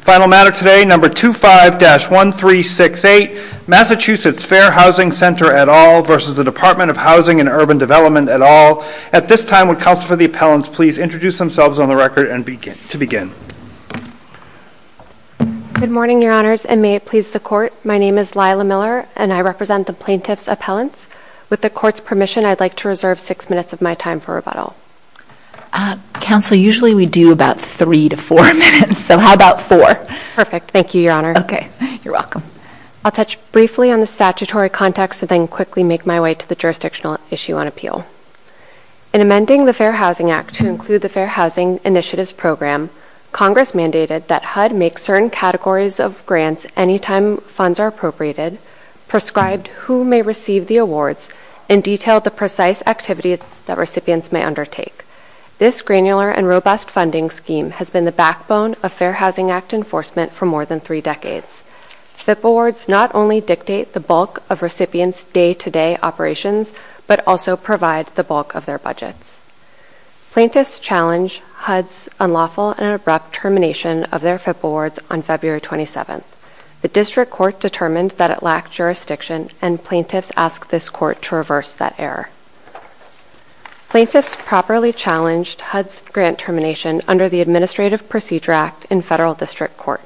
Final matter today, number 25-1368, Massachusetts Fair Housing Center et al. v. Dep't of Housing and Urban Development et al. At this time, would counsel for the appellants please introduce themselves on the record and begin Good morning, your honors, and may it please the court. My name is Lila Miller and I represent the plaintiff's appellants. With the court's permission, I'd like to reserve six minutes of my time for rebuttal. Counsel, usually we do about three to four minutes, so how about four? Perfect, thank you, your honor. Okay, you're welcome. I'll touch briefly on the statutory context and then quickly make my way to the jurisdictional issue on appeal. In amending the Fair Housing Act to include the Fair Housing Initiatives Program, Congress mandated that HUD make certain categories of grants any time funds are appropriated, prescribed who may receive the awards, and detailed the precise activities that recipients may undertake. This granular and robust funding scheme has been the backbone of Fair Housing Act enforcement for more than three decades. FIP awards not only dictate the bulk of recipients' day-to-day operations, but also provide the bulk of their budgets. Plaintiffs challenge HUD's unlawful and abrupt termination of their FIP awards on February 27. The district court determined that it lacked jurisdiction, and plaintiffs asked this court to reverse that error. Plaintiffs properly challenged HUD's grant termination under the Administrative Procedure Act in federal district court.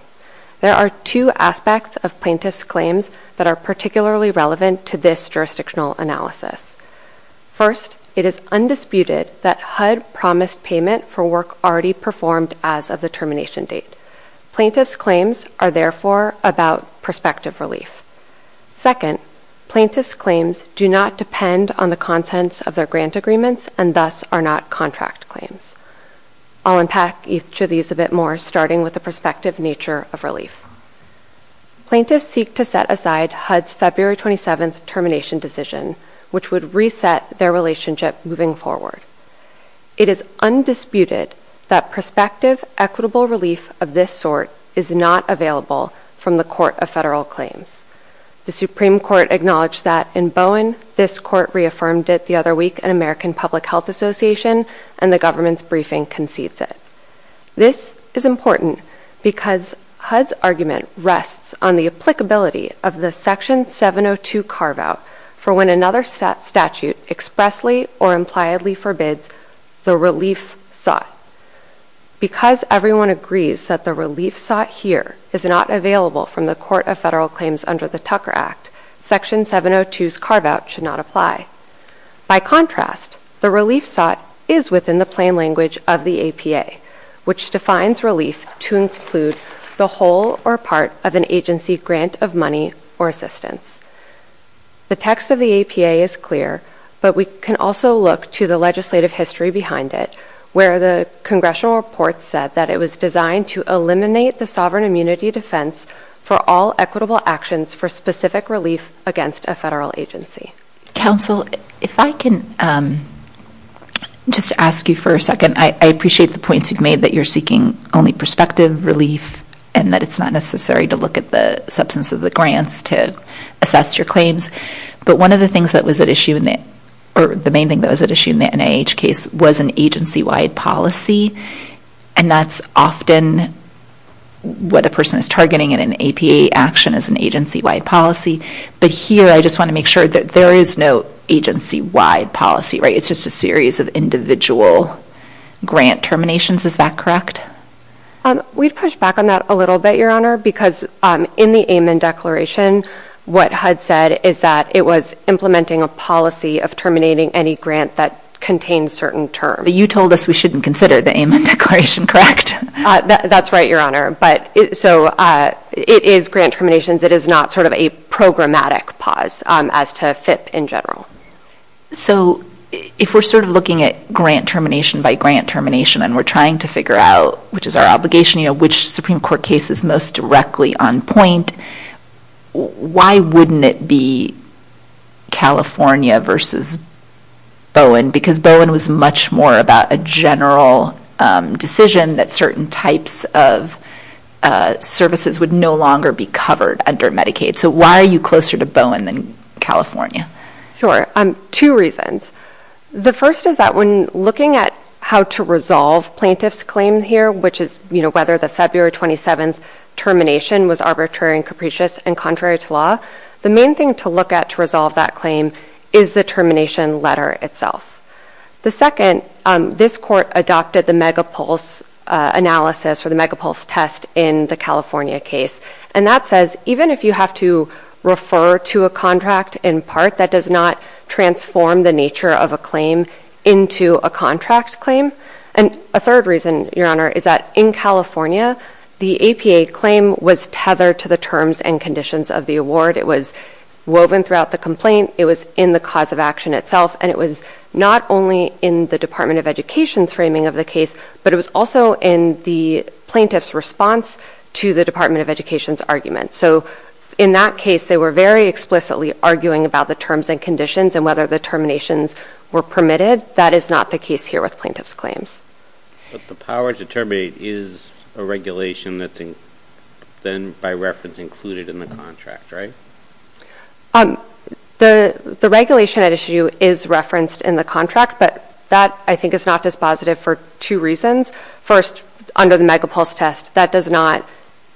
There are two aspects of plaintiffs' claims that are particularly relevant to this jurisdictional analysis. First, it is undisputed that HUD promised payment for work already performed as of the termination date. Plaintiffs' claims are therefore about prospective relief. Second, plaintiffs' claims do not depend on the contents of their grant agreements and thus are not contract claims. I'll unpack each of these a bit more, starting with the prospective nature of relief. Plaintiffs seek to set aside HUD's February 27 termination decision, which would reset their relationship moving forward. It is undisputed that prospective, equitable relief of this sort is not available from the Court of Federal Claims. The Supreme Court acknowledged that in Bowen, this Court reaffirmed it the other week in American Public Health Association, and the government's briefing concedes it. This is important because HUD's argument rests on the applicability of the Section 702 carve-out for when another statute expressly or impliedly forbids the relief sought. Because everyone agrees that the relief sought here is not available from the Court of Federal Claims under the Tucker Act, Section 702's carve-out should not apply. By contrast, the relief sought is within the plain language of the APA, which defines relief to include the whole or part of an agency grant of money or assistance. The text of the APA is clear, but we can also look to the legislative history behind it, where the congressional report said that it was designed to eliminate the sovereign immunity defense for all equitable actions for specific relief against a federal agency. Counsel, if I can just ask you for a second. I appreciate the points you've made that you're seeking only prospective relief and that it's not necessary to look at the substance of the grants to assess your claims. But one of the things that was at issue in the NIH case was an agency-wide policy, and that's often what a person is targeting in an APA action as an agency-wide policy. But here I just want to make sure that there is no agency-wide policy, right? It's just a series of individual grant terminations. Is that correct? We've pushed back on that a little bit, Your Honor, because in the Amon Declaration, what HUD said is that it was implementing a policy of terminating any grant that contained certain terms. But you told us we shouldn't consider the Amon Declaration, correct? That's right, Your Honor. So it is grant terminations. It is not sort of a programmatic pause as to FIP in general. So if we're sort of looking at grant termination by grant termination and we're trying to figure out, which is our obligation, which Supreme Court case is most directly on point, why wouldn't it be California versus Bowen? Because Bowen was much more about a general decision that certain types of services would no longer be covered under Medicaid. So why are you closer to Bowen than California? Sure. Two reasons. The first is that when looking at how to resolve plaintiff's claim here, which is whether the February 27th termination was arbitrary and capricious and contrary to law, the main thing to look at to resolve that claim is the termination letter itself. The second, this court adopted the megapulse analysis or the megapulse test in the California case. And that says even if you have to refer to a contract in part, that does not transform the nature of a claim into a contract claim. And a third reason, Your Honor, is that in California, the APA claim was tethered to the terms and conditions of the award. It was woven throughout the complaint. It was in the cause of action itself. And it was not only in the Department of Education's framing of the case, but it was also in the plaintiff's response to the Department of Education's argument. So in that case, they were very explicitly arguing about the terms and conditions and whether the terminations were permitted. That is not the case here with plaintiff's claims. But the power to terminate is a regulation that's then by reference included in the contract, right? The regulation at issue is referenced in the contract, but that I think is not dispositive for two reasons. First, under the megapulse test, that does not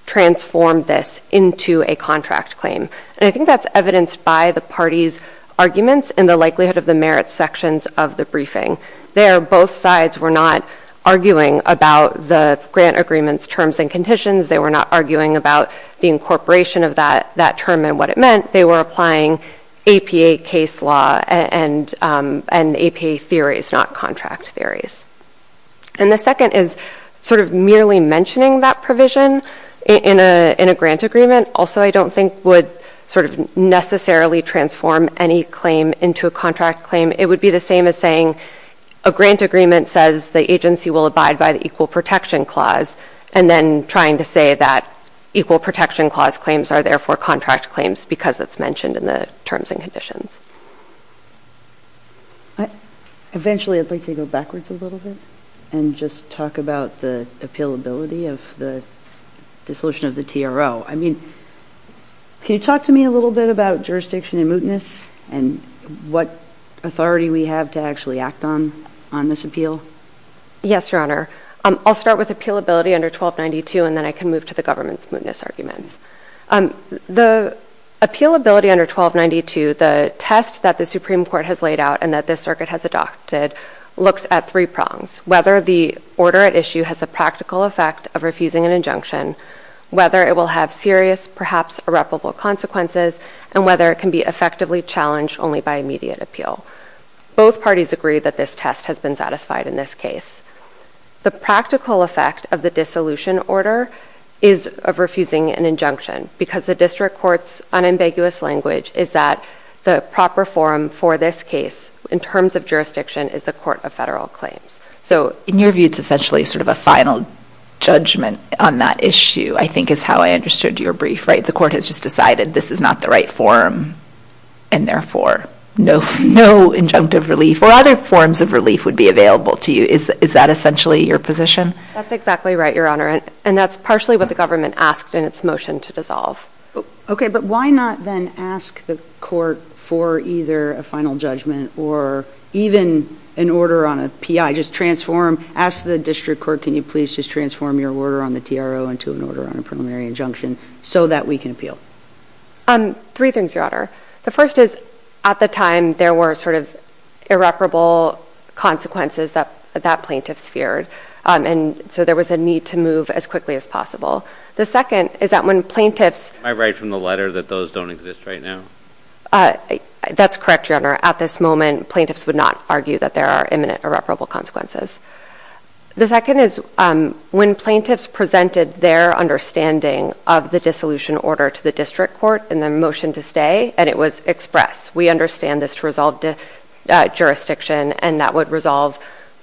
transform this into a contract claim. And I think that's evidenced by the party's arguments and the likelihood of the merit sections of the briefing. There, both sides were not arguing about the grant agreement's terms and conditions. They were not arguing about the incorporation of that term and what it meant. They were applying APA case law and APA theories, not contract theories. And the second is sort of merely mentioning that provision in a grant agreement also I don't think would sort of necessarily transform any claim into a contract claim. It would be the same as saying a grant agreement says the agency will abide by the Equal Protection Clause and then trying to say that Equal Protection Clause claims are therefore contract claims because it's mentioned in the terms and conditions. Eventually, I'd like to go backwards a little bit and just talk about the appealability of the dissolution of the TRO. I mean, can you talk to me a little bit about jurisdiction and mootness and what authority we have to actually act on this appeal? Yes, Your Honor. I'll start with appealability under 1292, and then I can move to the government's mootness arguments. The appealability under 1292, the test that the Supreme Court has laid out and that this circuit has adopted, looks at three prongs. Whether the order at issue has the practical effect of refusing an injunction, whether it will have serious, perhaps irreparable consequences, and whether it can be effectively challenged only by immediate appeal. Both parties agree that this test has been satisfied in this case. The practical effect of the dissolution order is of refusing an injunction because the district court's unambiguous language is that the proper forum for this case, in terms of jurisdiction, is the Court of Federal Claims. In your view, it's essentially sort of a final judgment on that issue, I think is how I understood your brief, right? This is not the right forum, and therefore no injunctive relief or other forms of relief would be available to you. Is that essentially your position? That's exactly right, Your Honor, and that's partially what the government asked in its motion to dissolve. Okay, but why not then ask the court for either a final judgment or even an order on a PI, just transform, ask the district court, can you please just transform your order on the TRO into an order on a preliminary injunction so that we can appeal? Three things, Your Honor. The first is, at the time, there were sort of irreparable consequences that plaintiffs feared, and so there was a need to move as quickly as possible. The second is that when plaintiffs— I write from the letter that those don't exist right now. That's correct, Your Honor. At this moment, plaintiffs would not argue that there are imminent irreparable consequences. The second is when plaintiffs presented their understanding of the dissolution order to the district court in their motion to stay, and it was expressed, we understand this to resolve jurisdiction, and that would resolve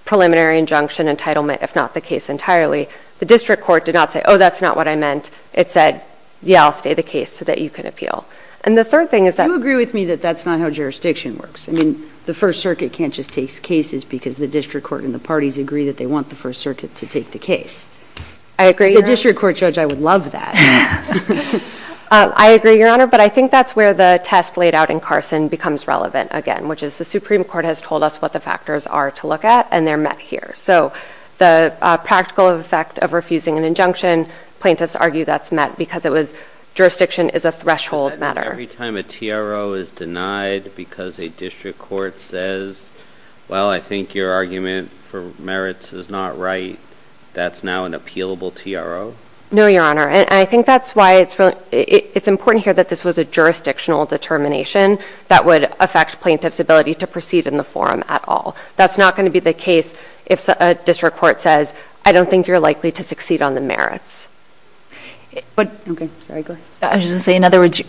preliminary injunction entitlement if not the case entirely, the district court did not say, oh, that's not what I meant. It said, yeah, I'll stay the case so that you can appeal. And the third thing is that— Do you agree with me that that's not how jurisdiction works? I mean, the first circuit can't just take cases because the district court and the parties agree that they want the first circuit to take the case. I agree, Your Honor. As a district court judge, I would love that. I agree, Your Honor, but I think that's where the test laid out in Carson becomes relevant again, which is the Supreme Court has told us what the factors are to look at, and they're met here. So the practical effect of refusing an injunction, plaintiffs argue that's met because it was—jurisdiction is a threshold matter. Every time a TRO is denied because a district court says, well, I think your argument for merits is not right, that's now an appealable TRO? No, Your Honor. I think that's why it's important here that this was a jurisdictional determination that would affect plaintiffs' ability to proceed in the forum at all. That's not going to be the case if a district court says, I don't think you're likely to succeed on the merits. I was just going to say, in other words,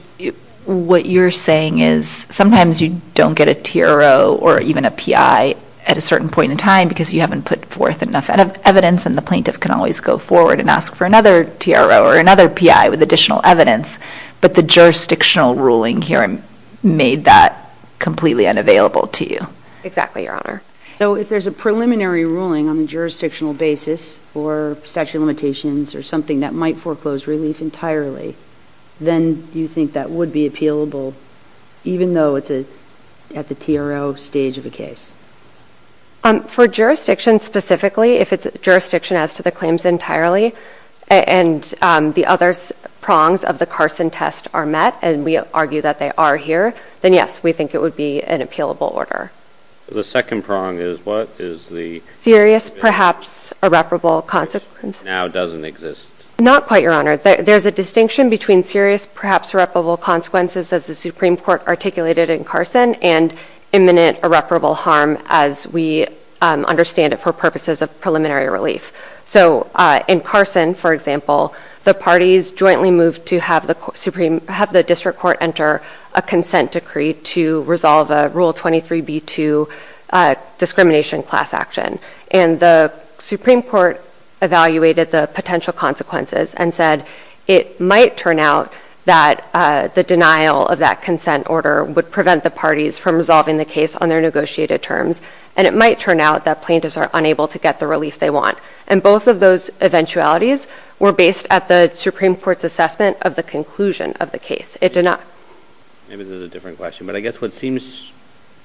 what you're saying is sometimes you don't get a TRO or even a PI at a certain point in time because you haven't put forth enough evidence, and the plaintiff can always go forward and ask for another TRO or another PI with additional evidence, but the jurisdictional ruling here made that completely unavailable to you. Exactly, Your Honor. So if there's a preliminary ruling on the jurisdictional basis or statute of limitations or something that might foreclose relief entirely, then do you think that would be appealable even though it's at the TRO stage of a case? For jurisdiction specifically, if it's jurisdiction as to the claims entirely and the other prongs of the Carson test are met and we argue that they are here, then yes, we think it would be an appealable order. The second prong is what is the… Serious, perhaps irreparable consequences. Which now doesn't exist. Not quite, Your Honor. There's a distinction between serious, perhaps irreparable consequences as the Supreme Court articulated in Carson and imminent irreparable harm as we understand it for purposes of preliminary relief. So in Carson, for example, the parties jointly moved to have the district court enter a consent decree to resolve a Rule 23b2 discrimination class action. And the Supreme Court evaluated the potential consequences and said it might turn out that the denial of that consent order would prevent the parties from resolving the case on their negotiated terms and it might turn out that plaintiffs are unable to get the relief they want. And both of those eventualities were based at the Supreme Court's assessment of the conclusion of the case. Maybe this is a different question, but I guess what seems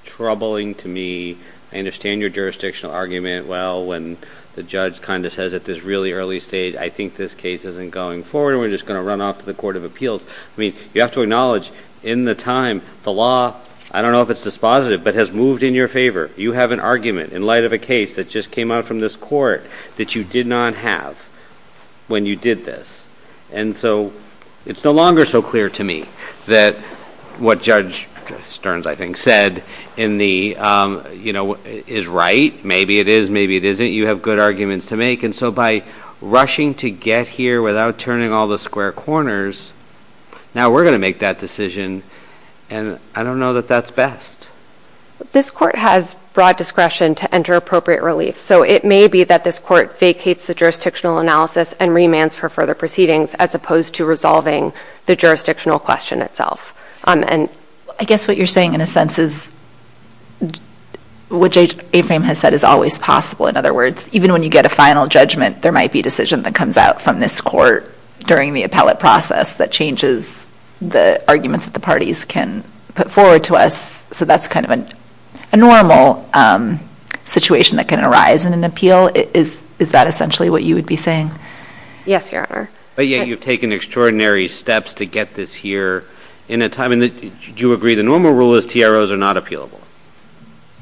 troubling to me, I understand your jurisdictional argument, well, when the judge kind of says at this really early stage, I think this case isn't going forward and we're just going to run off to the Court of Appeals. I mean, you have to acknowledge in the time, the law, I don't know if it's dispositive, but has moved in your favor. You have an argument in light of a case that just came out from this court that you did not have when you did this. And so it's no longer so clear to me that what Judge Stearns, I think, said is right. Maybe it is, maybe it isn't. You have good arguments to make. And so by rushing to get here without turning all the square corners, now we're going to make that decision and I don't know that that's best. This court has broad discretion to enter appropriate relief. So it may be that this court vacates the jurisdictional analysis and remands for further proceedings as opposed to resolving the jurisdictional question itself. I guess what you're saying in a sense is what Judge Aframe has said is always possible. In other words, even when you get a final judgment, there might be a decision that comes out from this court during the appellate process that changes the arguments that the parties can put forward to us. So that's kind of a normal situation that can arise in an appeal. Is that essentially what you would be saying? Yes, Your Honor. But yet you've taken extraordinary steps to get this here. Do you agree the normal rule is TROs are not appealable?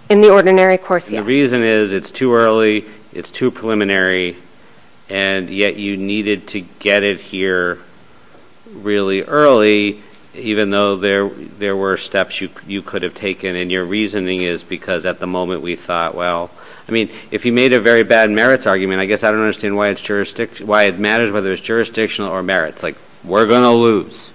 In the ordinary course, yes. The reason is it's too early, it's too preliminary, and yet you needed to get it here really early even though there were steps you could have taken. And your reasoning is because at the moment we thought, well, I mean, if he made a very bad merits argument, I guess I don't understand why it matters whether it's jurisdictional or merits. Like, we're going to lose.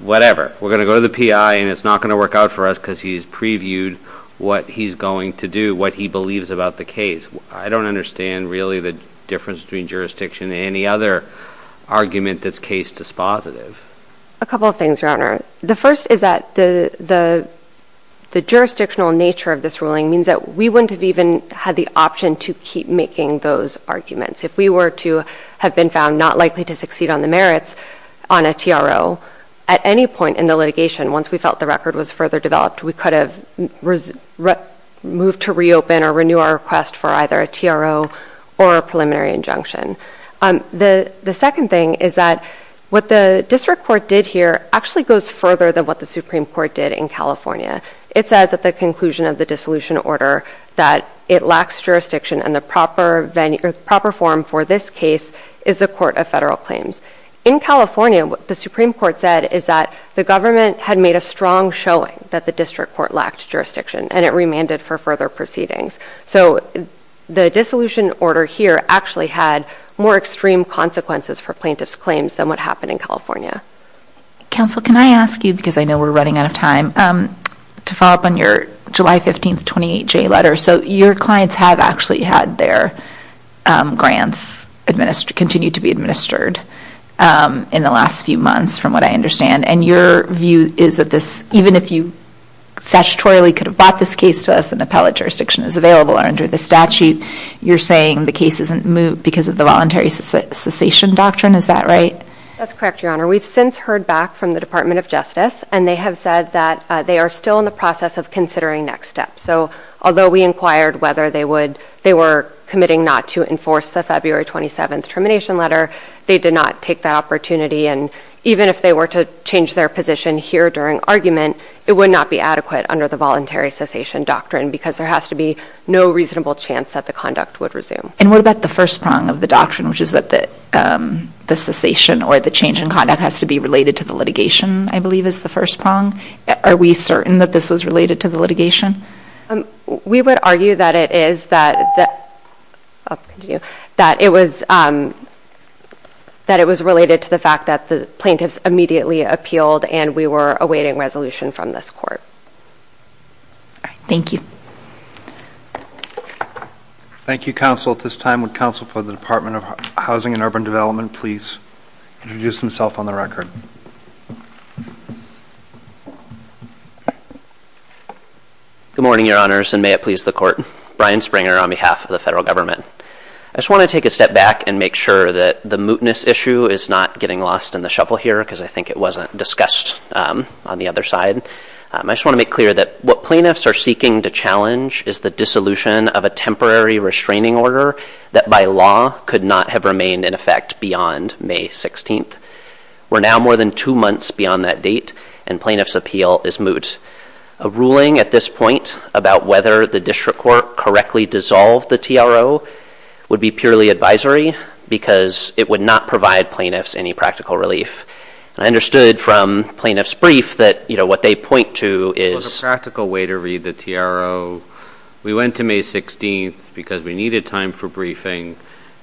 Whatever. We're going to go to the PI and it's not going to work out for us because he's previewed what he's going to do, what he believes about the case. I don't understand really the difference between jurisdiction and any other argument that's case dispositive. A couple of things, Your Honor. The first is that the jurisdictional nature of this ruling means that we wouldn't have even had the option to keep making those arguments. If we were to have been found not likely to succeed on the merits on a TRO, at any point in the litigation, once we felt the record was further developed, we could have moved to reopen or renew our request for either a TRO or a preliminary injunction. The second thing is that what the district court did here actually goes further than what the Supreme Court did in California. It says at the conclusion of the dissolution order that it lacks jurisdiction and the proper form for this case is a court of federal claims. In California, what the Supreme Court said is that the government had made a strong showing that the district court lacked jurisdiction and it remanded for further proceedings. The dissolution order here actually had more extreme consequences for plaintiff's claims than what happened in California. Counsel, can I ask you, because I know we're running out of time, to follow up on your July 15th 28J letter. Your clients have actually had their grants continue to be administered in the last few months from what I understand. And your view is that this, even if you statutorily could have bought this case to us and appellate jurisdiction is available under the statute, you're saying the case isn't moved because of the voluntary cessation doctrine, is that right? That's correct, Your Honor. We've since heard back from the Department of Justice and they have said that they are still in the process of considering next steps. So although we inquired whether they were committing not to enforce the February 27th termination letter, they did not take that opportunity. And even if they were to change their position here during argument, it would not be adequate under the voluntary cessation doctrine because there has to be no reasonable chance that the conduct would resume. And what about the first prong of the doctrine, which is that the cessation or the change in conduct has to be related to the litigation, I believe is the first prong. Are we certain that this was related to the litigation? We would argue that it was related to the fact that the plaintiffs immediately appealed and we were awaiting resolution from this court. Thank you. Thank you, counsel. At this time, would counsel for the Department of Housing and Urban Development please introduce himself on the record. Good morning, Your Honors, and may it please the court. Brian Springer on behalf of the federal government. I just want to take a step back and make sure that the mootness issue is not getting lost in the shovel here because I think it wasn't discussed on the other side. I just want to make clear that what plaintiffs are seeking to challenge is the dissolution of a temporary restraining order that by law could not have remained in effect beyond May 16th. We're now more than two months beyond that date, and plaintiffs' appeal is moot. A ruling at this point about whether the district court correctly dissolved the TRO would be purely advisory because it would not provide plaintiffs any practical relief. I understood from plaintiffs' brief that what they point to is There's a practical way to read the TRO. We went to May 16th because we needed time for briefing,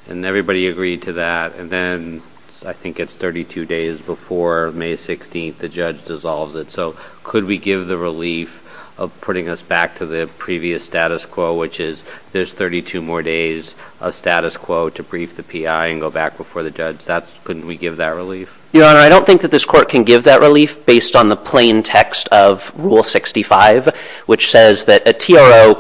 and everybody agreed to that, and then I think it's 32 days before May 16th the judge dissolves it. So could we give the relief of putting us back to the previous status quo, which is there's 32 more days of status quo to brief the PI and go back before the judge? Couldn't we give that relief? Your Honor, I don't think that this court can give that relief based on the plain text of Rule 65, which says that a TRO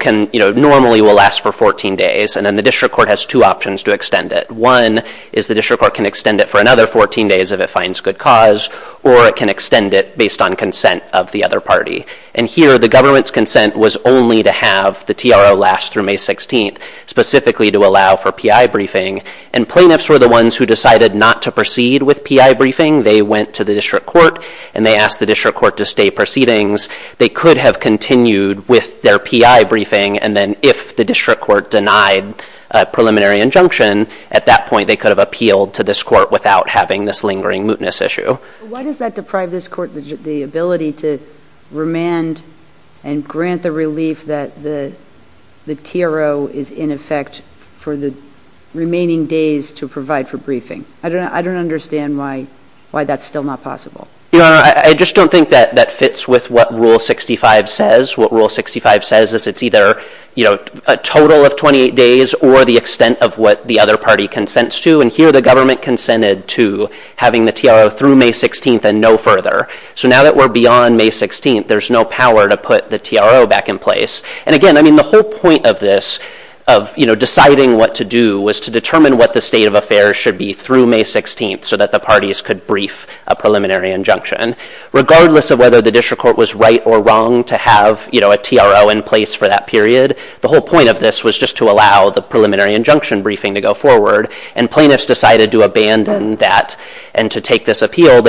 normally will last for 14 days, and then the district court has two options to extend it. One is the district court can extend it for another 14 days if it finds good cause, or it can extend it based on consent of the other party. And here the government's consent was only to have the TRO last through May 16th, specifically to allow for PI briefing, and plaintiffs were the ones who decided not to proceed with PI briefing. They went to the district court, and they asked the district court to stay proceedings. They could have continued with their PI briefing, and then if the district court denied a preliminary injunction, at that point they could have appealed to this court without having this lingering mootness issue. Why does that deprive this court the ability to remand and grant the relief that the TRO is in effect for the remaining days to provide for briefing? I don't understand why that's still not possible. Your Honor, I just don't think that that fits with what Rule 65 says. What Rule 65 says is it's either a total of 28 days or the extent of what the other party consents to, and here the government consented to having the TRO through May 16th and no further. So now that we're beyond May 16th, there's no power to put the TRO back in place. And again, the whole point of this, of deciding what to do, was to determine what the state of affairs should be through May 16th so that the parties could brief a preliminary injunction. Regardless of whether the district court was right or wrong to have a TRO in place for that period, the whole point of this was just to allow the preliminary injunction briefing to go forward, and plaintiffs decided to abandon that and to take this appeal.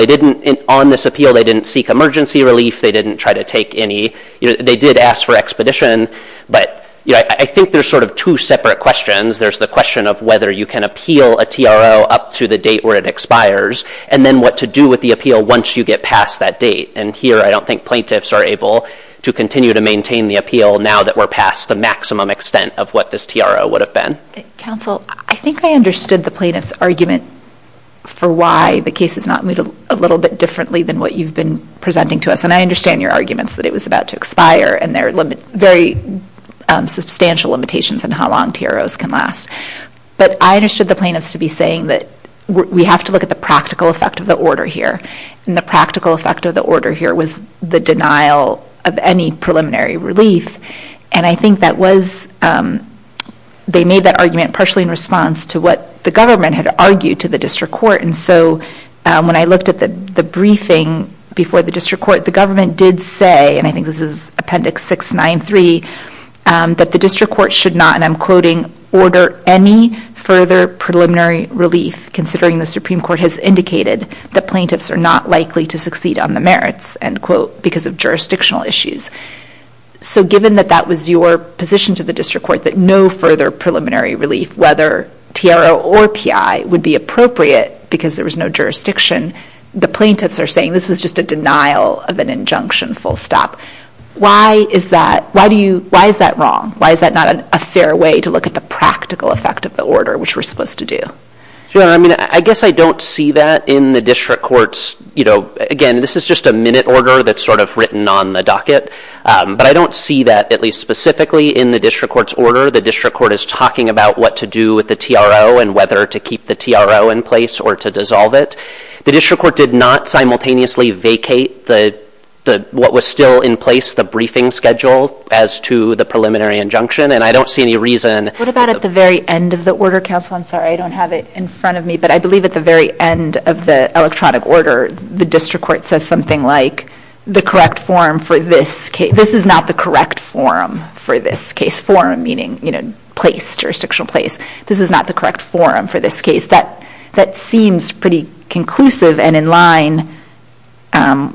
On this appeal, they didn't seek emergency relief. They didn't try to take any. They did ask for expedition, but I think there's sort of two separate questions. There's the question of whether you can appeal a TRO up to the date where it expires and then what to do with the appeal once you get past that date. And here I don't think plaintiffs are able to continue to maintain the appeal now that we're past the maximum extent of what this TRO would have been. Counsel, I think I understood the plaintiff's argument for why the case has not moved a little bit differently than what you've been presenting to us, and I understand your arguments that it was about to expire and there are very substantial limitations on how long TROs can last. But I understood the plaintiffs to be saying that we have to look at the practical effect of the order here, and the practical effect of the order here was the denial of any preliminary relief, and I think that was, they made that argument partially in response to what the government had argued to the district court. And so when I looked at the briefing before the district court, the government did say, and I think this is Appendix 693, that the district court should not, and I'm quoting, order any further preliminary relief considering the Supreme Court has indicated that plaintiffs are not likely to succeed on the merits, end quote, because of jurisdictional issues. So given that that was your position to the district court, that no further preliminary relief, whether TRO or PI, would be appropriate because there was no jurisdiction, the plaintiffs are saying this was just a denial of an injunction, full stop. Why is that wrong? Why is that not a fair way to look at the practical effect of the order, which we're supposed to do? Sure, I mean, I guess I don't see that in the district court's, you know, again, this is just a minute order that's sort of written on the docket, but I don't see that, at least specifically, in the district court's order. The district court is talking about what to do with the TRO and whether to keep the TRO in place or to dissolve it. The district court did not simultaneously vacate what was still in place, the briefing schedule, as to the preliminary injunction, and I don't see any reason. What about at the very end of the order, counsel? I'm sorry, I don't have it in front of me, but I believe at the very end of the electronic order, the district court says something like, this is not the correct form for this case, forum meaning, you know, place, jurisdictional place. This is not the correct form for this case. That seems pretty conclusive and in line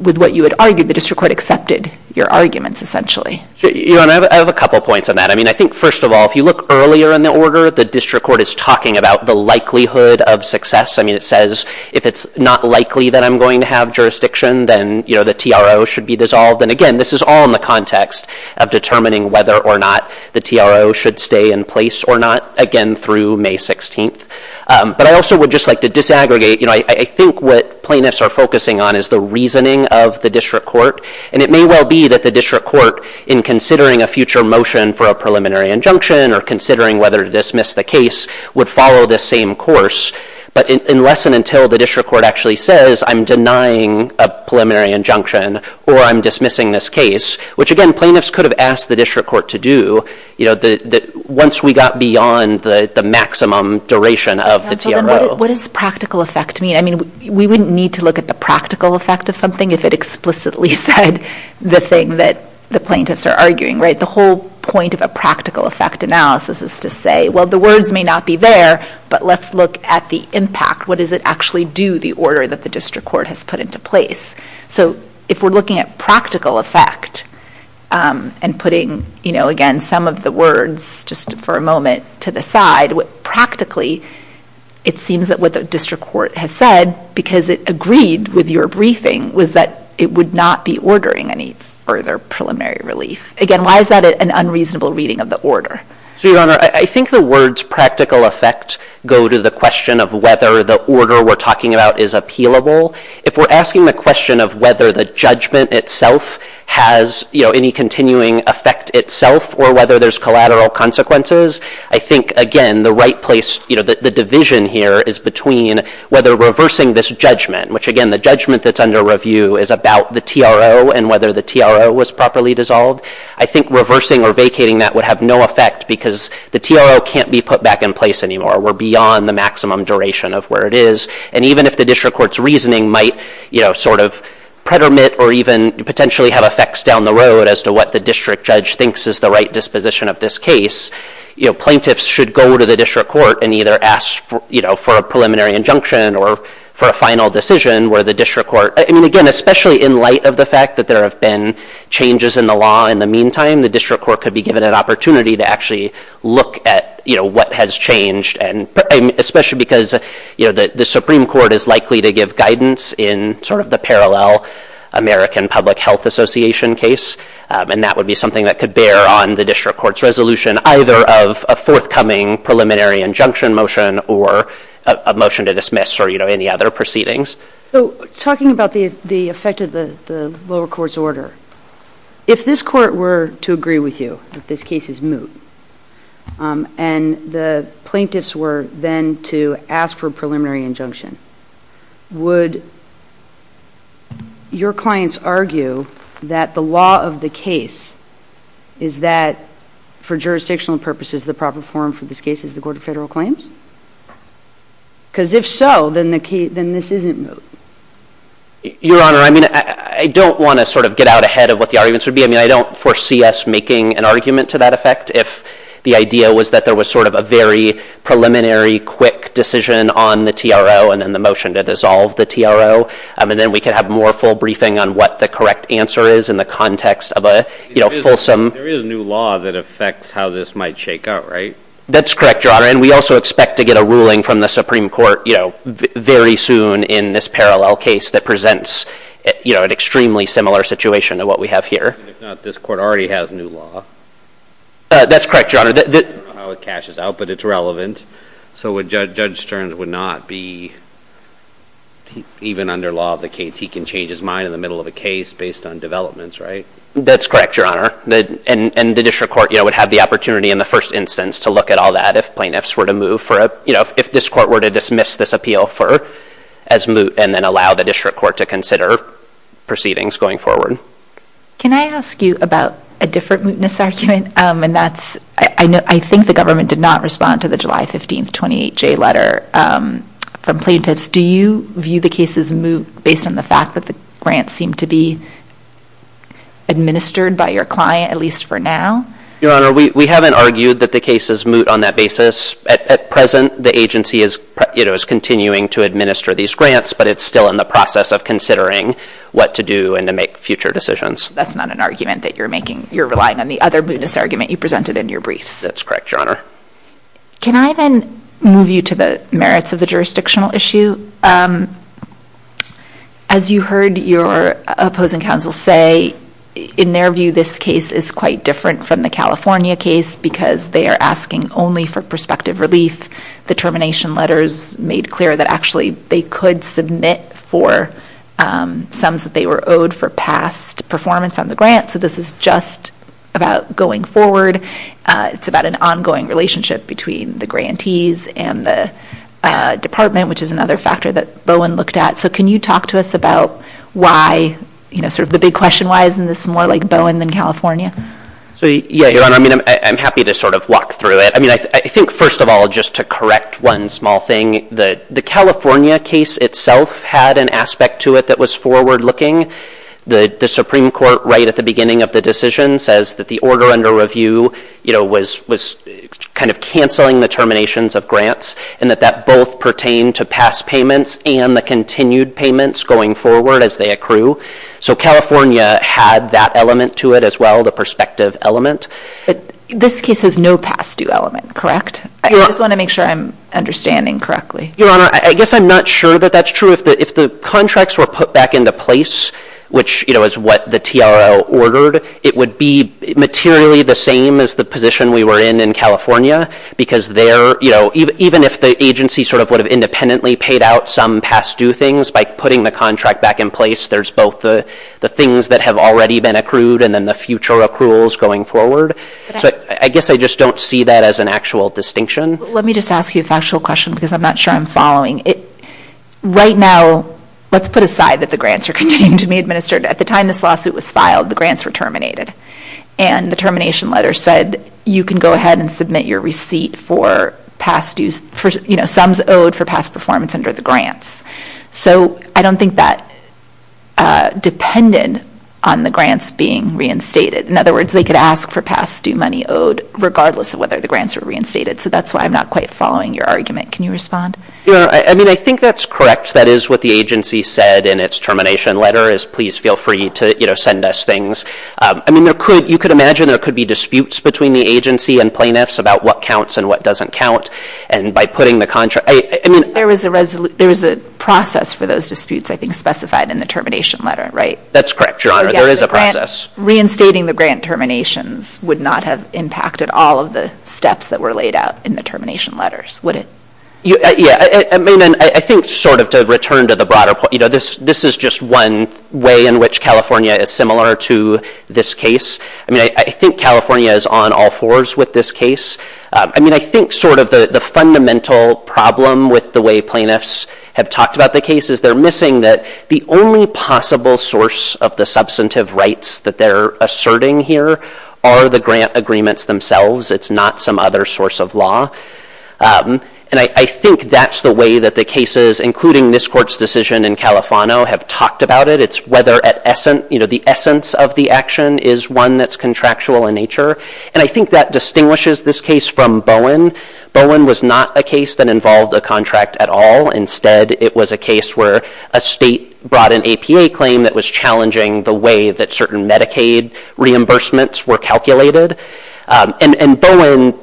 with what you had argued. The district court accepted your arguments, essentially. I have a couple points on that. I mean, I think, first of all, if you look earlier in the order, the district court is talking about the likelihood of success. I mean, it says if it's not likely that I'm going to have jurisdiction, then, you know, the TRO should be dissolved. And, again, this is all in the context of determining whether or not the TRO should stay in place or not, again, through May 16th. But I also would just like to disaggregate, you know, I think what plaintiffs are focusing on is the reasoning of the district court, and it may well be that the district court, in considering a future motion for a preliminary injunction or considering whether to dismiss the case, would follow this same course. But unless and until the district court actually says, I'm denying a preliminary injunction or I'm dismissing this case, which, again, plaintiffs could have asked the district court to do, you know, once we got beyond the maximum duration of the TRO. What does practical effect mean? I mean, we wouldn't need to look at the practical effect of something if it explicitly said the thing that the plaintiffs are arguing, right? The whole point of a practical effect analysis is to say, well, the words may not be there, but let's look at the impact. What does it actually do, the order that the district court has put into place? So if we're looking at practical effect and putting, you know, again, some of the words, just for a moment, to the side, what practically it seems that what the district court has said, because it agreed with your briefing, was that it would not be ordering any further preliminary relief. Again, why is that an unreasonable reading of the order? So, Your Honor, I think the words practical effect go to the question of whether the order we're talking about is appealable. If we're asking the question of whether the judgment itself has, you know, any continuing effect itself or whether there's collateral consequences, I think, again, the right place, you know, the division here is between whether reversing this judgment, which, again, the judgment that's under review is about the TRO and whether the TRO was properly dissolved. I think reversing or vacating that would have no effect because the TRO can't be put back in place anymore. We're beyond the maximum duration of where it is. And even if the district court's reasoning might, you know, sort of predominate or even potentially have effects down the road as to what the district judge thinks is the right disposition of this case, you know, plaintiffs should go to the district court and either ask, you know, for a preliminary injunction or for a final decision where the district court... I mean, again, especially in light of the fact that there have been changes in the law in the meantime, the district court could be given an opportunity to actually look at, you know, what has changed, especially because, you know, the Supreme Court is likely to give guidance in sort of the parallel American Public Health Association case, and that would be something that could bear on the district court's resolution either of a forthcoming preliminary injunction motion or a motion to dismiss or, you know, any other proceedings. So talking about the effect of the lower court's order, if this court were to agree with you that this case is moot and the plaintiffs were then to ask for a preliminary injunction, would your clients argue that the law of the case is that for jurisdictional purposes the proper form for this case is the Court of Federal Claims? Because if so, then this isn't moot. Your Honor, I mean, I don't want to sort of get out ahead of what the arguments would be. I mean, I don't foresee us making an argument to that effect if the idea was that there was sort of a very preliminary quick decision on the TRO and then the motion to dissolve the TRO, and then we could have more full briefing on what the correct answer is in the context of a, you know, fulsome... There is new law that affects how this might shake out, right? That's correct, Your Honor, and we also expect to get a ruling from the Supreme Court, you know, very soon in this parallel case that presents, you know, an extremely similar situation to what we have here. If not, this court already has new law. That's correct, Your Honor. I don't know how it cashes out, but it's relevant. So Judge Stearns would not be... Even under law of the case, he can change his mind in the middle of a case based on developments, right? That's correct, Your Honor. And the district court, you know, would have the opportunity in the first instance to look at all that if plaintiffs were to move for a... You know, if this court were to dismiss this appeal for... as moot and then allow the district court to consider proceedings going forward. Can I ask you about a different mootness argument? And that's... I think the government did not respond to the July 15th 28J letter from plaintiffs. Do you view the case as moot based on the fact that the grant seemed to be administered by your client, at least for now? Your Honor, we haven't argued that the case is moot on that basis. At present, the agency is, you know, is continuing to administer these grants, but it's still in the process of considering what to do and to make future decisions. That's not an argument that you're making. You're relying on the other mootness argument you presented in your briefs. That's correct, Your Honor. Can I then move you to the merits of the jurisdictional issue? As you heard your opposing counsel say, in their view, this case is quite different from the California case because they are asking only for prospective relief. The termination letters made clear that actually they could submit for sums that they were owed for past performance on the grant. So this is just about going forward. It's about an ongoing relationship between the grantees and the department, which is another factor that Bowen looked at. So can you talk to us about why, you know, sort of the big question, why isn't this more like Bowen than California? So, yeah, Your Honor. I mean, I'm happy to sort of walk through it. I mean, I think, first of all, just to correct one small thing, the California case itself had an aspect to it that was forward-looking. The Supreme Court, right at the beginning of the decision, says that the order under review, you know, was kind of canceling the terminations of grants and that that both pertained to past payments and the continued payments going forward as they accrue. So California had that element to it as well, the perspective element. But this case has no past-due element, correct? I just want to make sure I'm understanding correctly. Your Honor, I guess I'm not sure that that's true. If the contracts were put back into place, which, you know, is what the TRL ordered, it would be materially the same as the position we were in in California because there, you know, even if the agency sort of would have independently paid out some past-due things, by putting the contract back in place, there's both the things that have already been accrued and then the future accruals going forward. So I guess I just don't see that as an actual distinction. Let me just ask you a factual question because I'm not sure I'm following. Right now, let's put aside that the grants are continuing to be administered. At the time this lawsuit was filed, the grants were terminated. And the termination letter said you can go ahead and submit your receipt for past-due, you know, sums owed for past performance under the grants. So I don't think that, that's dependent on the grants being reinstated. In other words, they could ask for past-due money owed regardless of whether the grants were reinstated. So that's why I'm not quite following your argument. Can you respond? Yeah, I mean, I think that's correct. That is what the agency said in its termination letter is please feel free to, you know, send us things. I mean, you could imagine there could be disputes between the agency and plaintiffs about what counts and what doesn't count. And by putting the contract, I mean... There was a process for those disputes, I think, to be specified in the termination letter, right? That's correct, Your Honor. There is a process. Reinstating the grant terminations would not have impacted all of the steps that were laid out in the termination letters, would it? Yeah, I mean, and I think sort of to return to the broader point, you know, this is just one way in which California is similar to this case. I mean, I think California is on all fours with this case. I mean, I think sort of the fundamental problem with the way plaintiffs have talked about the case is they're missing that the only possible source of the substantive rights that they're asserting here are the grant agreements themselves. It's not some other source of law. And I think that's the way that the cases, including this Court's decision in Califano, have talked about it. It's whether at essence, you know, the essence of the action is one that's contractual in nature. And I think that distinguishes this case from Bowen. Bowen was not a case that involved a contract at all. Instead, it was a case where a state brought an APA claim that was challenging the way that certain Medicaid reimbursements were calculated. And Bowen...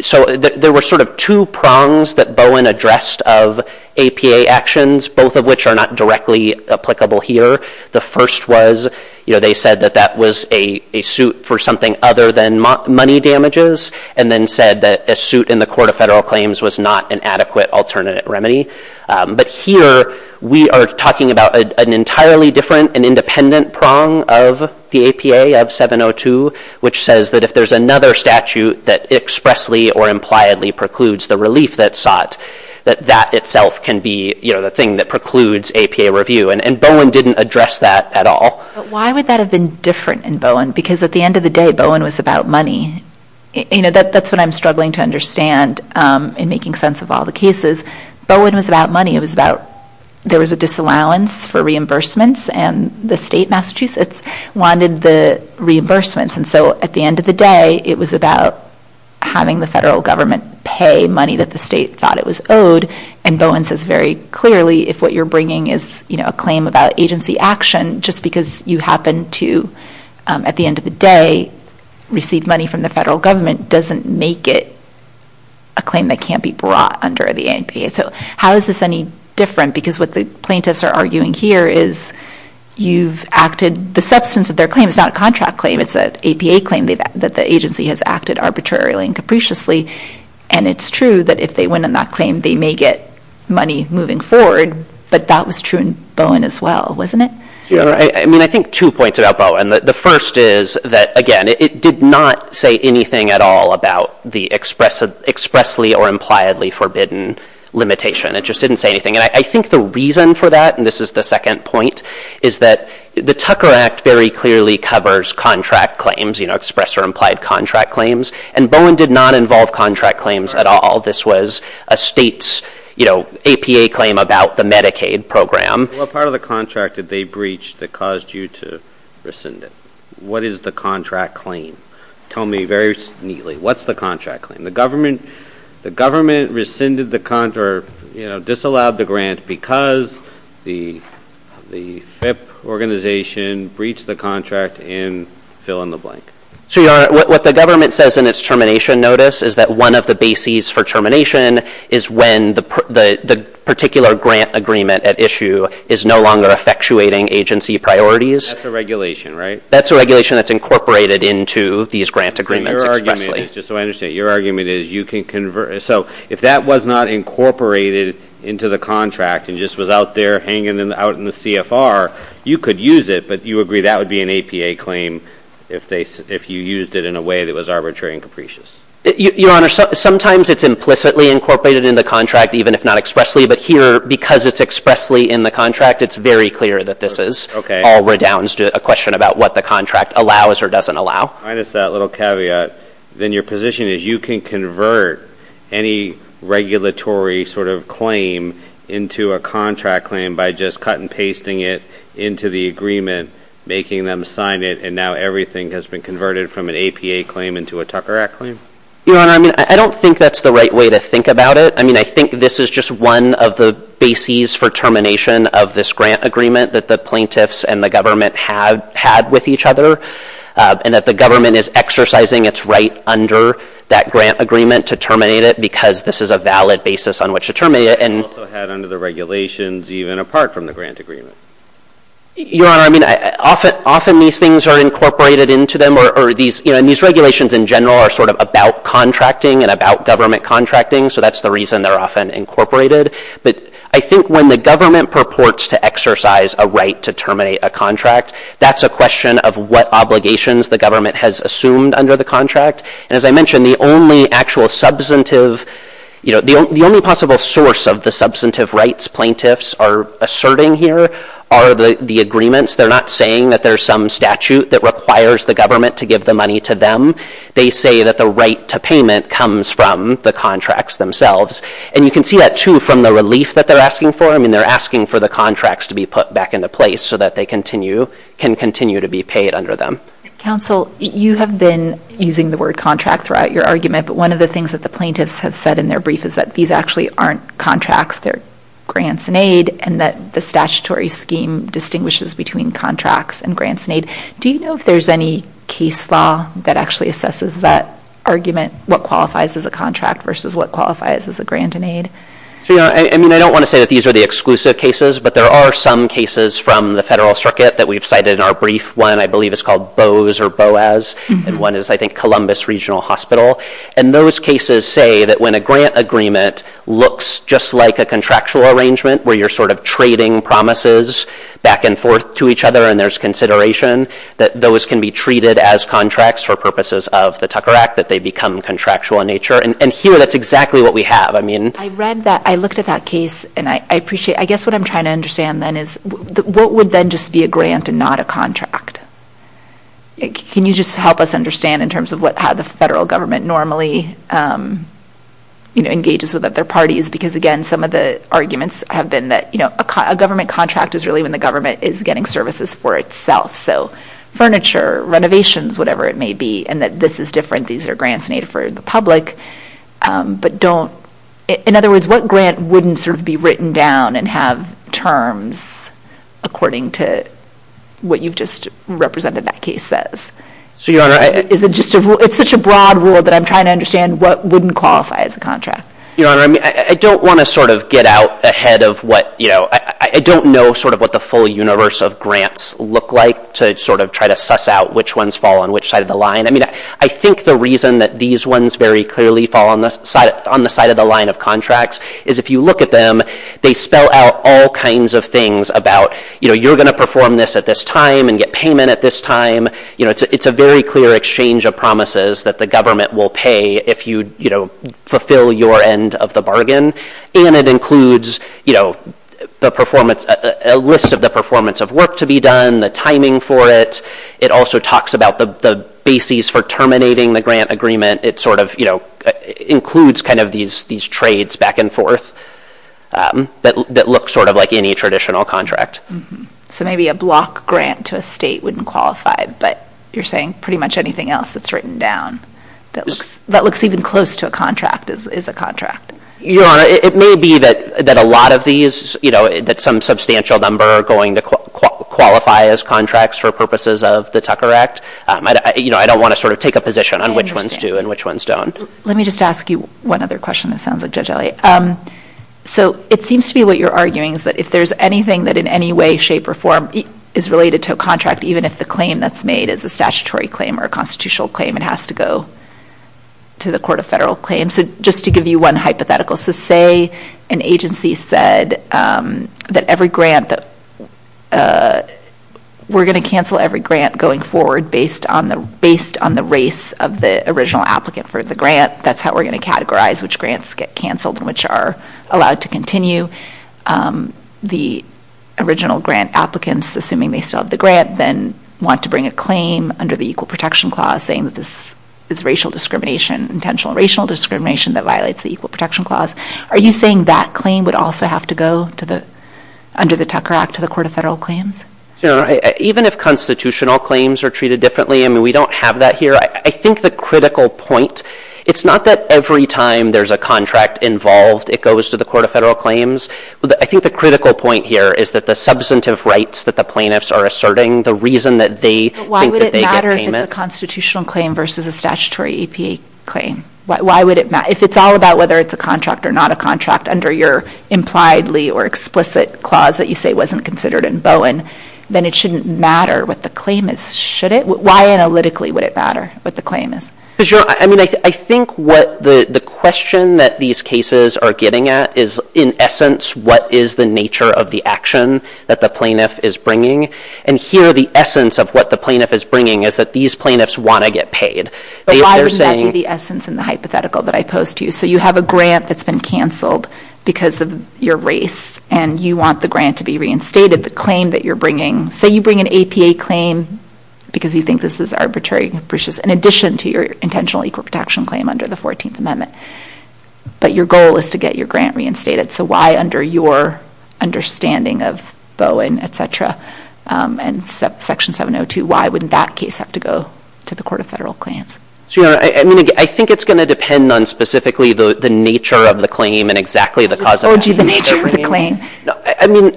So there were sort of two prongs that Bowen addressed of APA actions, both of which are not directly applicable here. The first was, you know, they said that that was a suit for something other than money damages and then said that a suit in the Court of Federal Claims was not an adequate alternate remedy. But here, we are talking about an entirely different and independent prong of the APA, of 702, which says that if there's another statute that expressly or impliedly precludes the relief that's sought, that that itself can be, you know, the thing that precludes APA review. And Bowen didn't address that at all. But why would that have been different in Bowen? Because at the end of the day, Bowen was about money. You know, that's what I'm struggling to understand in making sense of all the cases. Bowen was about money. It was about... There was a disallowance for reimbursements, and the state, Massachusetts, wanted the reimbursements. And so at the end of the day, it was about having the federal government pay money that the state thought it was owed. And Bowen says very clearly, if what you're bringing is, you know, a claim about agency action, just because you happen to, at the end of the day, receive money from the federal government doesn't make it a claim that can't be brought under the APA. So how is this any different? Because what the plaintiffs are arguing here is you've acted... The substance of their claim is not a contract claim. It's an APA claim that the agency has acted arbitrarily and capriciously. And it's true that if they win on that claim, they may get money moving forward. But that was true in Bowen as well, wasn't it? I mean, I think two points about Bowen. The first is that, again, it did not say anything at all about the expressly or impliedly forbidden limitation. It just didn't say anything. And I think the reason for that, and this is the second point, is that the Tucker Act very clearly covers contract claims, you know, express or implied contract claims, and Bowen did not involve contract claims at all. This was a state's, you know, APA claim about the Medicaid program. What part of the contract did they breach that caused you to rescind it? What is the contract claim? Tell me very neatly. What's the contract claim? The government rescinded the contract or, you know, disallowed the grant because the FIPP organization breached the contract and fill in the blank. So what the government says in its termination notice is that one of the bases for termination is when the particular grant agreement at issue is no longer effectuating agency priorities. That's a regulation, right? That's a regulation that's incorporated into these grant agreements expressly. Just so I understand, your argument is you can convert it. So if that was not incorporated into the contract and just was out there hanging out in the CFR, you could use it, but you agree that would be an APA claim if you used it in a way that was arbitrary and capricious. Your Honor, sometimes it's implicitly incorporated into the contract, even if not expressly. But here, because it's expressly in the contract, it's very clear that this is. Okay. All redounds to a question about what the contract allows or doesn't allow. Minus that little caveat, then your position is you can convert any regulatory sort of claim into a contract claim by just cut and pasting it into the agreement, making them sign it, and now everything has been converted from an APA claim into a Tucker Act claim? Your Honor, I mean, I don't think that's the right way to think about it. I mean, I think this is just one of the bases for termination of this grant agreement that the plaintiffs and the government had with each other and that the government is exercising its right under that grant agreement to terminate it because this is a valid basis on which to terminate it. And also had under the regulations even apart from the grant agreement. Your Honor, I mean, often these things are incorporated into them or these regulations in general are sort of about contracting and about government contracting, so that's the reason they're often incorporated. But I think when the government purports to exercise a right to terminate a contract, that's a question of what obligations the government has assumed under the contract. And as I mentioned, the only actual substantive, the only possible source of the substantive rights plaintiffs are asserting here are the agreements. They're not saying that there's some statute that requires the government to give the money to them. They say that the right to payment comes from the contracts themselves. And you can see that, too, from the relief that they're asking for. I mean, they're asking for the contracts to be put back into place so that they continue, can continue to be paid under them. Counsel, you have been using the word contract throughout your argument, but one of the things that the plaintiffs have said in their brief is that these actually aren't contracts. They're grants and aid, and that the statutory scheme distinguishes between contracts and grants and aid. Do you know if there's any case law that actually assesses that argument, what qualifies as a contract versus what qualifies as a grant and aid? Your Honor, I mean, I don't want to say that these are the exclusive cases, but there are some cases from the federal circuit that we've cited in our brief. One, I believe, is called Bowes or Boaz, and one is, I think, Columbus Regional Hospital. And those cases say that when a grant agreement looks just like a contractual arrangement where you're sort of trading promises back and forth to each other and there's consideration that those can be treated as contracts for purposes of the Tucker Act, that they become contractual in nature. And here, that's exactly what we have. I read that. I looked at that case, and I appreciate it. I guess what I'm trying to understand, then, is what would then just be a grant and not a contract? Can you just help us understand in terms of how the federal government normally engages with other parties? Because, again, some of the arguments have been that a government contract is really when the government is getting services for itself. So furniture, renovations, whatever it may be, and that this is different, these are grants made for the public, but don't – in other words, what grant wouldn't sort of be written down and have terms according to what you've just represented that case says? It's such a broad rule that I'm trying to understand what wouldn't qualify as a contract. Your Honor, I don't want to sort of get out ahead of what – I don't know sort of what the full universe of grants look like to sort of try to suss out which ones fall on which side of the line. I think the reason that these ones very clearly fall on the side of the line of contracts is if you look at them, they spell out all kinds of things about you're going to perform this at this time and get payment at this time. It's a very clear exchange of promises that the government will pay if you fulfill your end of the bargain. And it includes a list of the performance of work to be done, the timing for it. It also talks about the basis for terminating the grant agreement. It sort of includes kind of these trades back and forth that look sort of like any traditional contract. So maybe a block grant to a state wouldn't qualify, but you're saying pretty much anything else that's written down that looks even close to a contract is a contract. Your Honor, it may be that a lot of these, that some substantial number are going to qualify as contracts for purposes of the Tucker Act. I don't want to sort of take a position on which ones do and which ones don't. Let me just ask you one other question that sounds like Judge Elliott. So it seems to be what you're arguing is that if there's anything that in any way, shape, or form is related to a contract, even if the claim that's made is a statutory claim or a constitutional claim, it has to go to the Court of Federal Claims. So just to give you one hypothetical. So say an agency said that every grant that we're going to cancel every grant going forward based on the race of the original applicant for the grant, that's how we're going to categorize which grants get canceled and which are allowed to continue. The original grant applicants, assuming they still have the grant, then want to bring a claim under the Equal Protection Clause saying that this is racial discrimination, intentional racial discrimination that violates the Equal Protection Clause. Are you saying that claim would also have to go under the Tucker Act to the Court of Federal Claims? Even if constitutional claims are treated differently, I mean, we don't have that here. I think the critical point, it's not that every time there's a contract involved, it goes to the Court of Federal Claims. I think the critical point here is that the substantive rights that the plaintiffs are asserting, the reason that they think that they get payment. But why would it matter if it's a constitutional claim versus a statutory EPA claim? Why would it matter? If it's all about whether it's a contract or not a contract under your impliedly or explicit clause that you say wasn't considered in Bowen, then it shouldn't matter what the claim is, should it? Why analytically would it matter what the claim is? I think what the question that these cases are getting at is in essence what is the nature of the action that the plaintiff is bringing. And here the essence of what the plaintiff is bringing is that these plaintiffs want to get paid. Why would that be the essence in the hypothetical that I posed to you? So you have a grant that's been canceled because of your race and you want the grant to be reinstated. The claim that you're bringing, say you bring an APA claim because you think this is arbitrary and capricious in addition to your intentional equal protection claim under the 14th Amendment, but your goal is to get your grant reinstated. So why under your understanding of Bowen, et cetera, and Section 702, why would that case have to go to the Court of Federal Claims? I think it's going to depend on specifically the nature of the claim and exactly the cause of action. I told you the nature of the claim. I mean,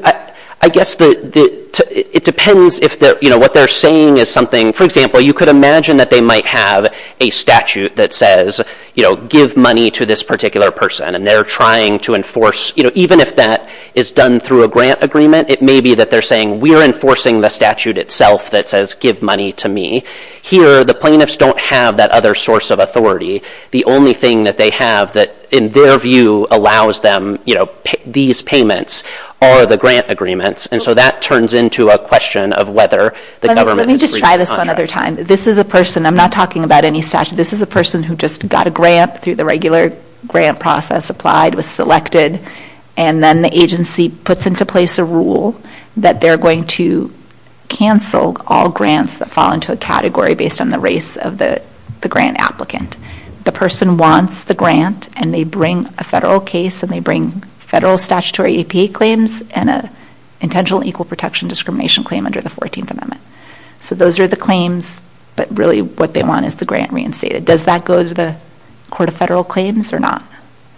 I guess it depends if what they're saying is something, for example, you could imagine that they might have a statute that says give money to this particular person and they're trying to enforce, even if that is done through a grant agreement, it may be that they're saying we're enforcing the statute itself that says give money to me. Here the plaintiffs don't have that other source of authority. The only thing that they have that in their view allows them to say these payments are the grant agreements, and so that turns into a question of whether the government has reached a contract. Let me just try this one other time. This is a person, I'm not talking about any statute, this is a person who just got a grant through the regular grant process, applied, was selected, and then the agency puts into place a rule that they're going to cancel all grants that fall into a category based on the race of the grant applicant. The person wants the grant and they bring a federal case and they bring federal statutory EPA claims and an intentional equal protection discrimination claim under the 14th Amendment. So those are the claims, but really what they want is the grant reinstated. Does that go to the Court of Federal Claims or not?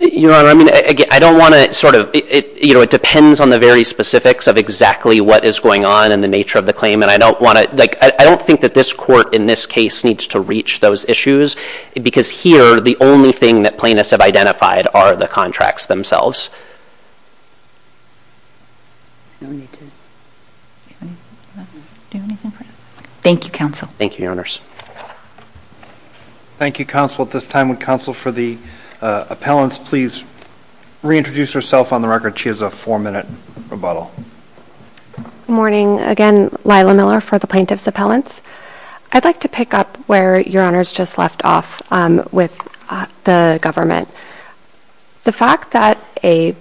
Your Honor, I don't want to sort of, you know, it depends on the very specifics of exactly what is going on and the nature of the claim, and I don't want to, like, I don't think that this court in this case needs to reach those issues because here the only thing that plaintiffs have identified are the contracts themselves. Thank you, Counsel. Thank you, Your Honors. Thank you, Counsel. At this time, would Counsel for the Appellants please reintroduce herself on the record? She has a four-minute rebuttal. Good morning. Again, Lila Miller for the Plaintiffs' Appellants. I'd like to pick up where Your Honors just left off with the government. The fact that a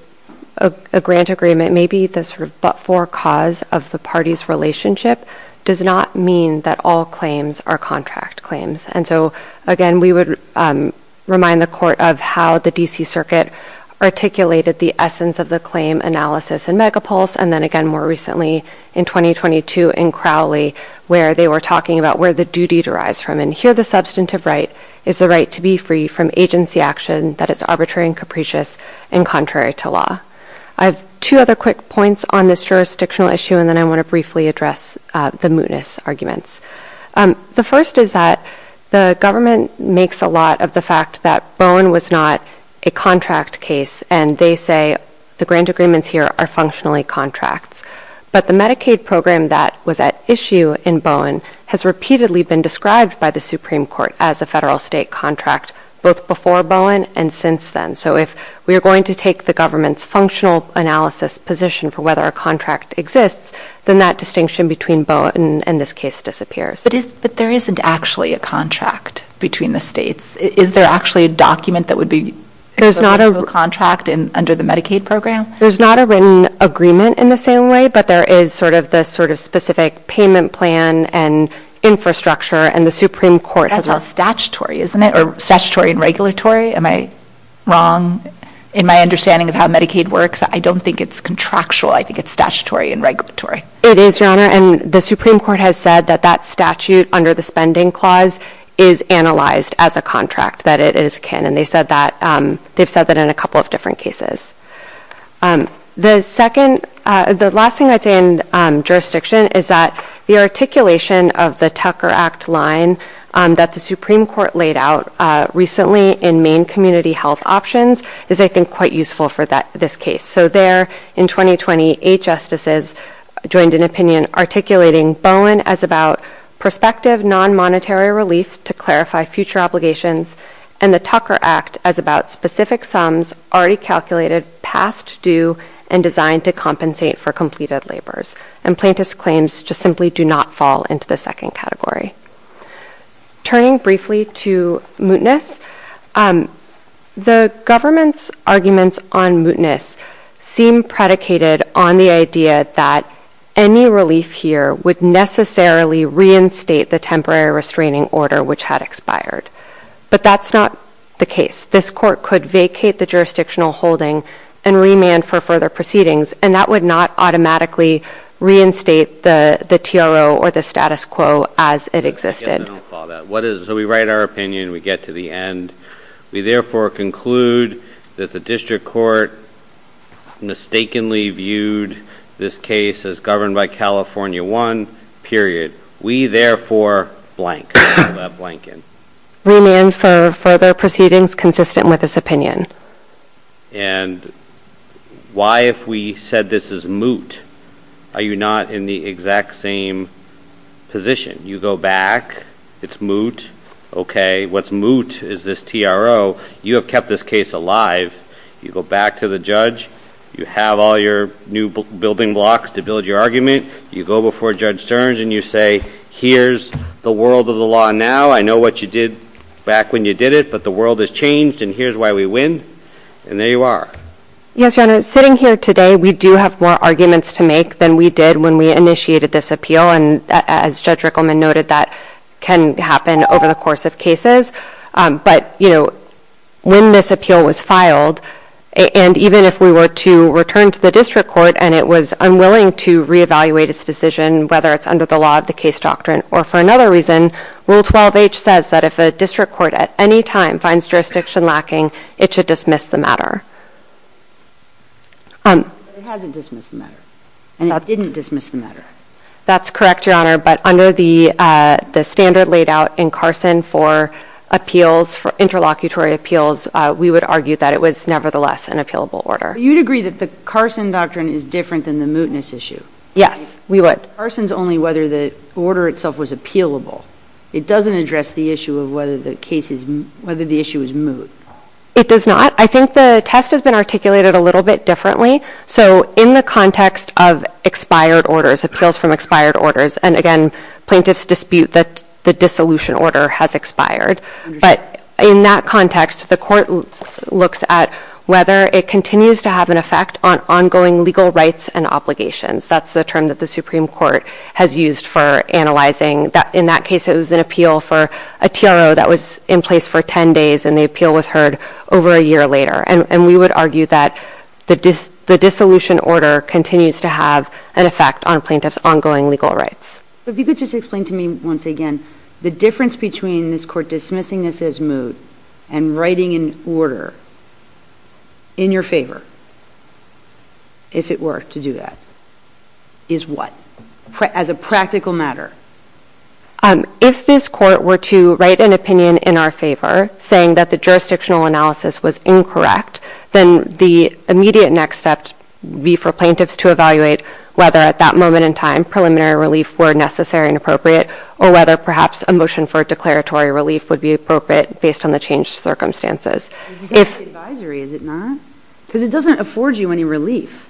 grant agreement may be the sort of but-for cause of the parties' relationship does not mean that all claims are contract claims. And so, again, we would remind the Court of how the D.C. Circuit articulated the essence of the claim analysis in Megapulse and then again more recently in 2022 in Crowley where they were talking about where the duty derives from. And here the substantive right is the right to be free from agency action that is arbitrary and capricious and contrary to law. I have two other quick points on this jurisdictional issue and then I want to briefly address the mootness arguments. The first is that the government makes a lot of the fact that Bowen was not a contract case and they say the grant agreements here are functionally contracts. But the Medicaid program that was at issue in Bowen has repeatedly been described by the Supreme Court as a federal state contract both before Bowen and since then. So if we are going to take the government's functional analysis position for whether a contract exists, then that distinction between Bowen and this case disappears. But there isn't actually a contract between the states. Is there actually a document that would be a contract under the Medicaid program? There's not a written agreement in the same way, but there is sort of this specific payment plan and infrastructure and the Supreme Court has a... That's all statutory, isn't it? Or statutory and regulatory? Am I wrong in my understanding of how Medicaid works? I don't think it's contractual. I think it's statutory and regulatory. It is, Your Honor, and the Supreme Court has said that that statute under the spending clause is analyzed as a contract, that it is a CAN. And they've said that in a couple of different cases. The second... The last thing I'd say in jurisdiction is that the articulation of the Tucker Act line that the Supreme Court laid out recently in Maine Community Health Options is, I think, quite useful for this case. So there, in 2020, eight justices joined an opinion articulating Bowen as about prospective non-monetary relief to clarify future obligations and the Tucker Act as about specific sums already calculated past due and designed to compensate for completed labors. And plaintiff's claims just simply do not fall into the second category. Turning briefly to mootness, the government's arguments on mootness seem predicated on the idea that any relief here would necessarily reinstate the temporary restraining order which had expired. But that's not the case. This court could vacate the jurisdictional holding and remand for further proceedings, and that would not automatically reinstate the TRO or the status quo as it existed. I'll follow that. So we write our opinion, we get to the end. We therefore conclude that the district court mistakenly viewed this case as governed by California 1, period. We therefore blank. Remand for further proceedings consistent with this opinion. And why, if we said this is moot, are you not in the exact same position? You go back, it's moot, okay. What's moot is this TRO. You have kept this case alive. You go back to the judge. You have all your new building blocks to build your argument. You go before Judge Stearns, and you say, here's the world of the law now. I know what you did back when you did it, but the world has changed, and here's why we win. And there you are. Yes, Your Honor. Sitting here today, we do have more arguments to make than we did when we initiated this appeal. And as Judge Rickleman noted, that can happen over the course of cases. But when this appeal was filed, and even if we were to return to the district court and it was unwilling to reevaluate its decision, whether it's under the law of the case doctrine or for another reason, Rule 12H says that if a district court at any time finds jurisdiction lacking, it should dismiss the matter. But it hasn't dismissed the matter. And it didn't dismiss the matter. That's correct, Your Honor. But under the standard laid out in Carson for appeals, for interlocutory appeals, we would argue that it was nevertheless an appealable order. You'd agree that the Carson doctrine is different than the mootness issue? Yes, we would. Carson's only whether the order itself was appealable. It doesn't address the issue of whether the issue is moot. It does not. I think the test has been articulated a little bit differently. So in the context of expired orders, appeals from expired orders, and, again, plaintiffs dispute that the dissolution order has expired. But in that context, the court looks at whether it continues to have an effect on ongoing legal rights and obligations. That's the term that the Supreme Court has used for analyzing. In that case, it was an appeal for a TRO that was in place for 10 days, and the appeal was heard over a year later. And we would argue that the dissolution order continues to have an effect on plaintiffs' ongoing legal rights. If you could just explain to me, once again, the difference between this court dismissing this as moot and writing an order in your favor, if it were to do that, is what? As a practical matter. If this court were to write an opinion in our favor, saying that the jurisdictional analysis was incorrect, then the immediate next step would be for plaintiffs to evaluate whether, at that moment in time, preliminary relief were necessary and appropriate or whether perhaps a motion for a declaratory relief would be appropriate based on the changed circumstances. Is it not? Because it doesn't afford you any relief.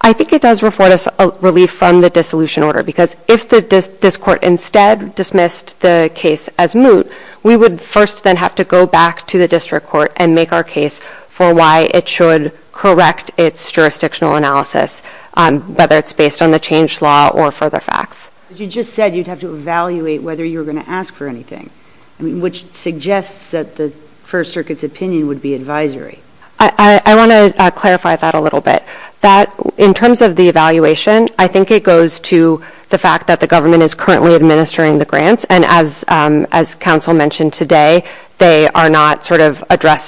I think it does afford us relief from the dissolution order, because if this court instead dismissed the case as moot, we would first then have to go back to the district court and make our case for why it should correct its jurisdictional analysis, whether it's based on the changed law or further facts. But you just said you'd have to evaluate whether you were going to ask for anything, which suggests that the First Circuit's opinion would be advisory. I want to clarify that a little bit. In terms of the evaluation, I think it goes to the fact that the government is currently administering the grants, and as counsel mentioned today, they have not argued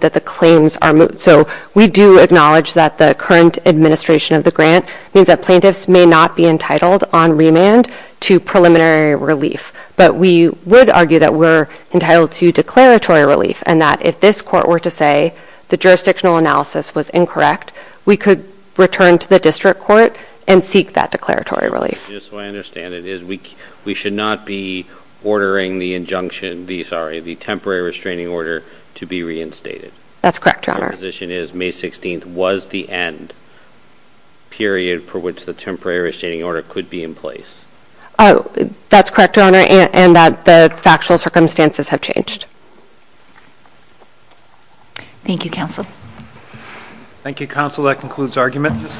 that the claims are moot. So we do acknowledge that the current administration of the grant means that plaintiffs may not be entitled on remand to preliminary relief, but we would argue that we're entitled to declaratory relief and that if this court were to say the jurisdictional analysis was incorrect, we could return to the district court and seek that declaratory relief. Just so I understand it, we should not be ordering the temporary restraining order to be reinstated. That's correct, Your Honor. My position is May 16th was the end period for which the temporary restraining order could be in place. That's correct, Your Honor, and that the factual circumstances have changed. Thank you, counsel. Thank you, counsel. That concludes argument.